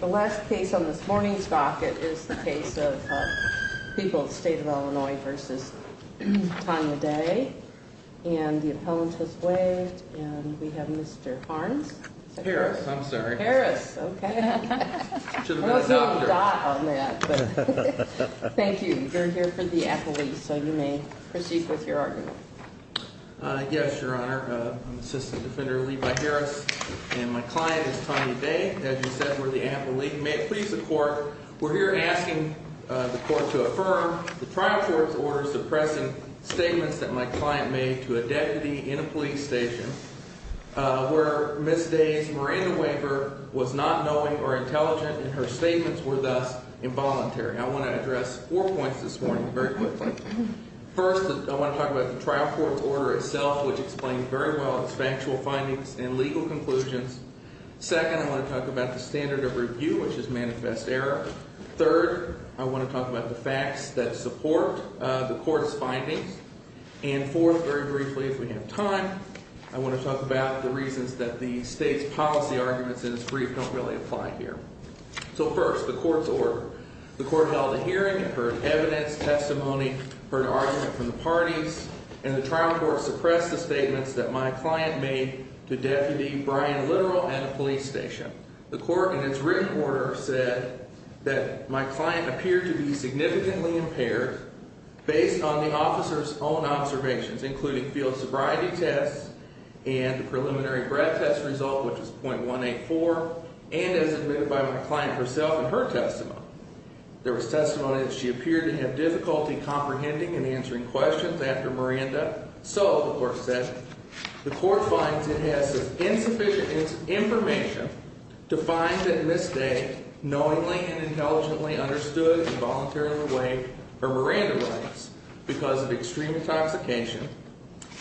The last case on this morning's docket is the case of people at the State of Illinois v. Tonya Day, and the appellant has waived, and we have Mr. Harnes. Harris, I'm sorry. Harris, okay. Thank you. You're here for the appellate, so you may proceed with your argument. Yes, Your Honor. I'm Assistant Defender Levi Harris, and my client is Tonya Day. As you said, we're the appellate. We're here asking the court to affirm the trial court's order suppressing statements that my client made to a deputy in a police station where Ms. Day's Miranda waiver was not knowing or intelligent, and her statements were thus involuntary. I want to address four points this morning very quickly. First, I want to talk about the trial court's order itself, which explains very well its factual findings and legal conclusions. Second, I want to talk about the standard of review, which is manifest error. Third, I want to talk about the facts that support the court's findings. And fourth, very briefly, if we have time, I want to talk about the reasons that the state's policy arguments in this brief don't really apply here. So first, the court's order. The court held a hearing, heard evidence, testimony, heard argument from the parties, and the trial court suppressed the statements that my client made to Deputy Brian Littrell at a police station. The court, in its written order, said that my client appeared to be significantly impaired based on the officer's own observations, including field sobriety tests and the preliminary breath test result, which was .184, and as admitted by my client herself in her testimony. There was testimony that she appeared to have difficulty comprehending and answering questions after Miranda. So, the court said, the court finds it has insufficient information to find that Ms. Day knowingly and intelligently understood and voluntarily waived her Miranda rights because of extreme intoxication.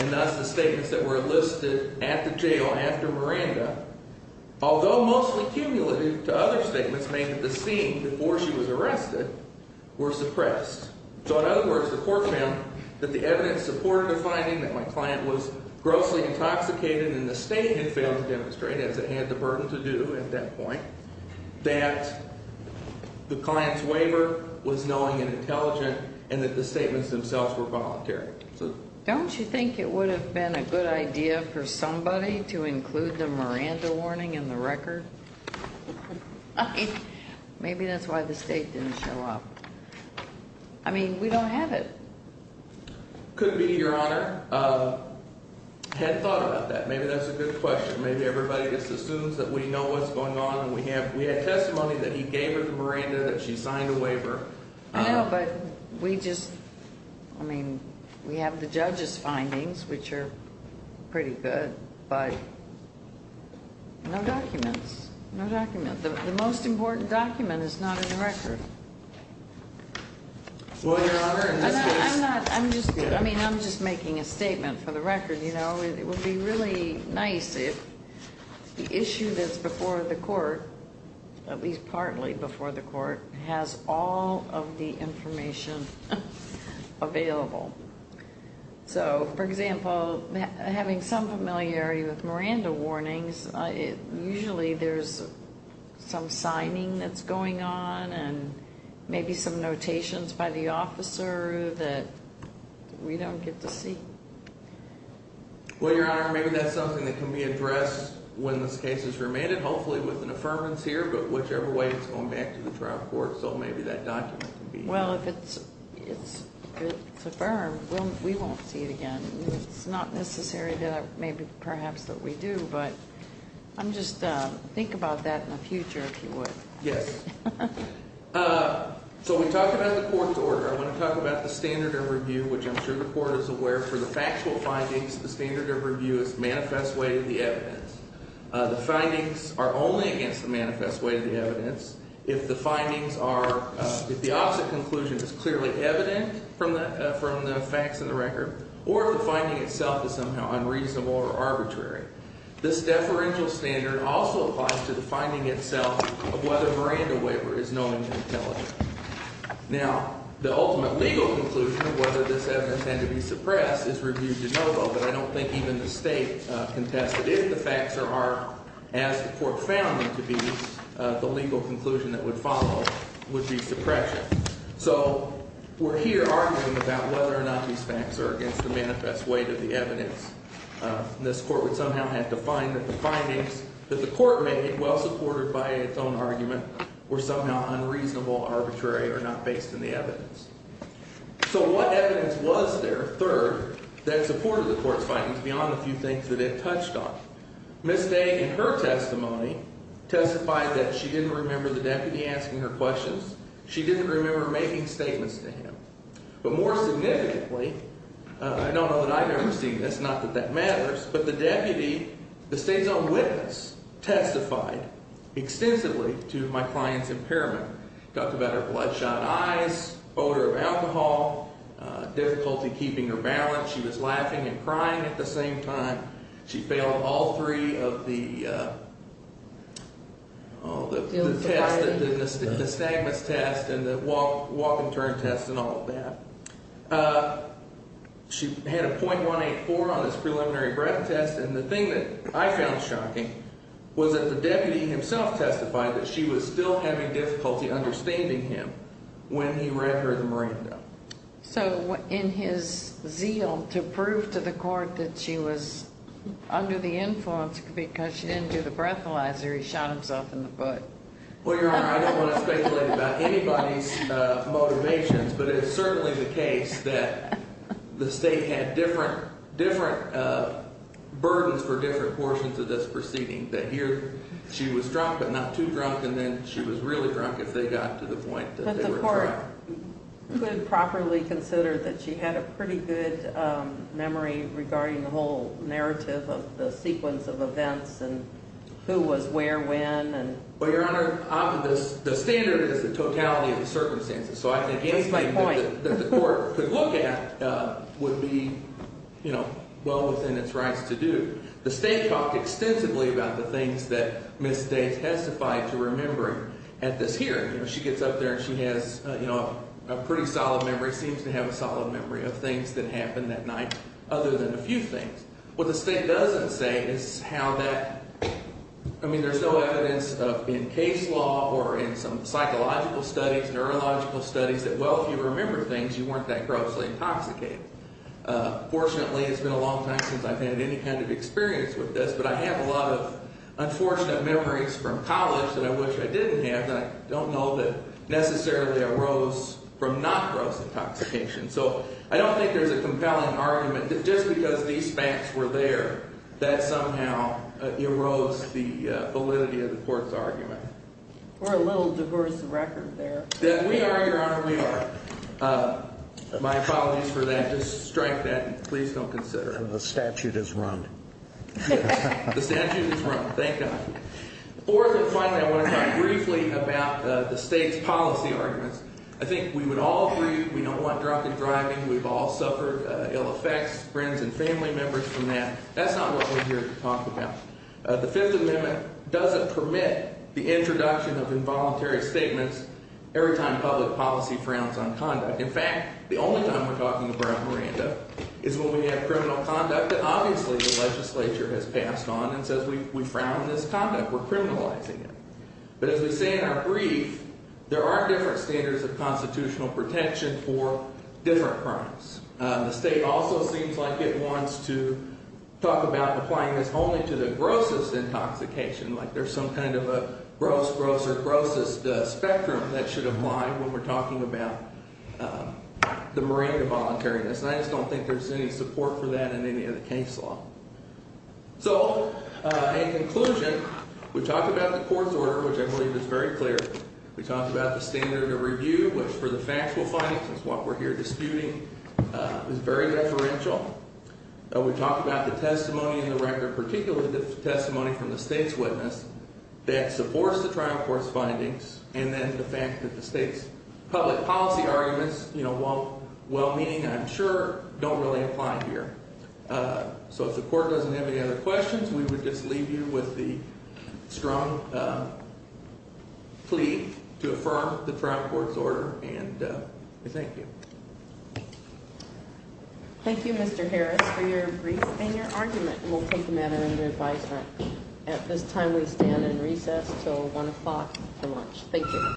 And thus, the statements that were enlisted at the jail after Miranda, although mostly cumulative to other statements made at the scene before she was arrested, were suppressed. So, in other words, the court found that the evidence supported the finding that my client was grossly intoxicated and the state had failed to demonstrate, as it had the burden to do at that point, that the client's waiver was knowing and intelligent and that the statements themselves were voluntary. Don't you think it would have been a good idea for somebody to include the Miranda warning in the record? I mean, maybe that's why the state didn't show up. I mean, we don't have it. Could be, Your Honor. Hadn't thought about that. Maybe that's a good question. Maybe everybody just assumes that we know what's going on and we have testimony that he gave her the Miranda, that she signed a waiver. No, but we just, I mean, we have the judge's findings, which are pretty good, but no documents, no document. The most important document is not in the record. Well, Your Honor, in this case. I'm not, I'm just, I mean, I'm just making a statement for the record. You know, it would be really nice if the issue that's before the court, at least partly before the court, has all of the information available. So, for example, having some familiarity with Miranda warnings, usually there's some signing that's going on and maybe some notations by the officer that we don't get to see. Well, Your Honor, maybe that's something that can be addressed when this case is remanded, hopefully with an affirmance here, but whichever way it's going back to the trial court, so maybe that document can be. Well, if it's affirmed, we won't see it again. It's not necessary that maybe perhaps that we do, but I'm just, think about that in the future if you would. Yes. So we talked about the court's order. I want to talk about the standard of review, which I'm sure the court is aware for the factual findings, the standard of review is manifest way to the evidence. The findings are only against the manifest way to the evidence if the findings are, if the opposite conclusion is clearly evident from the facts of the record or if the finding itself is somehow unreasonable or arbitrary. This deferential standard also applies to the finding itself of whether a Miranda waiver is known to be intelligent. Now, the ultimate legal conclusion of whether this evidence had to be suppressed is reviewed de novo, but I don't think even the state contested if the facts are, as the court found them to be, the legal conclusion that would follow would be suppression. So we're here arguing about whether or not these facts are against the manifest way to the evidence. This court would somehow have to find that the findings that the court made, well supported by its own argument, were somehow unreasonable, arbitrary, or not based in the evidence. So what evidence was there, third, that supported the court's findings beyond a few things that it touched on? Ms. Day, in her testimony, testified that she didn't remember the deputy asking her questions, she didn't remember making statements to him. But more significantly, I don't know that I've ever seen this, not that that matters, but the deputy, the state's own witness, testified extensively to my client's impairment. Talked about her bloodshot eyes, odor of alcohol, difficulty keeping her balance. She was laughing and crying at the same time. She failed all three of the tests, the nystagmus test and the walk and turn test and all of that. She had a .184 on his preliminary breath test. And the thing that I found shocking was that the deputy himself testified that she was still having difficulty understanding him when he read her the Miranda. So in his zeal to prove to the court that she was under the influence because she didn't do the breathalyzer, he shot himself in the butt. Well, Your Honor, I don't want to speculate about anybody's motivations, but it's certainly the case that the state had different burdens for different portions of this proceeding. That here she was drunk, but not too drunk, and then she was really drunk if they got to the point that they were drunk. But the court could properly consider that she had a pretty good memory regarding the whole narrative of the sequence of events and who was where when. Well, Your Honor, often the standard is the totality of the circumstances. So I think anything that the court could look at would be well within its rights to do. The state talked extensively about the things that Ms. States testified to remembering at this hearing. She gets up there and she has a pretty solid memory, seems to have a solid memory of things that happened that night other than a few things. What the state doesn't say is how that – I mean, there's no evidence in case law or in some psychological studies, neurological studies that, well, if you remember things, you weren't that grossly intoxicated. Fortunately, it's been a long time since I've had any kind of experience with this, but I have a lot of unfortunate memories from college that I wish I didn't have that I don't know that necessarily arose from not gross intoxication. So I don't think there's a compelling argument that just because these facts were there, that somehow arose the validity of the court's argument. We're a little diverse of record there. We are, Your Honor, we are. My apologies for that. Just strike that and please don't consider it. The statute is run. Yes, the statute is run. Thank God. Fourth and finally, I want to talk briefly about the state's policy arguments. I think we would all agree we don't want drunken driving. We've all suffered ill effects, friends and family members from that. That's not what we're here to talk about. The Fifth Amendment doesn't permit the introduction of involuntary statements every time public policy frowns on conduct. In fact, the only time we're talking about Miranda is when we have criminal conduct that obviously the legislature has passed on and says we frown on this conduct. We're criminalizing it. But as we say in our brief, there are different standards of constitutional protection for different crimes. The state also seems like it wants to talk about applying this only to the grossest intoxication, like there's some kind of a gross, gross, or grossest spectrum that should apply when we're talking about the Miranda voluntariness. And I just don't think there's any support for that in any of the case law. So in conclusion, we talked about the court's order, which I believe is very clear. We talked about the standard of review, which for the factual findings is what we're here disputing, is very deferential. We talked about the testimony in the record, particularly the testimony from the state's witness that supports the trial court's findings and then the fact that the state's public policy arguments, you know, well-meaning, I'm sure, don't really apply here. So if the court doesn't have any other questions, we would just leave you with the strong plea to affirm the trial court's order. And we thank you. Thank you, Mr. Harris, for your brief and your argument. And we'll take them at it under advisement. At this time, we stand in recess until 1 o'clock for lunch. Thank you.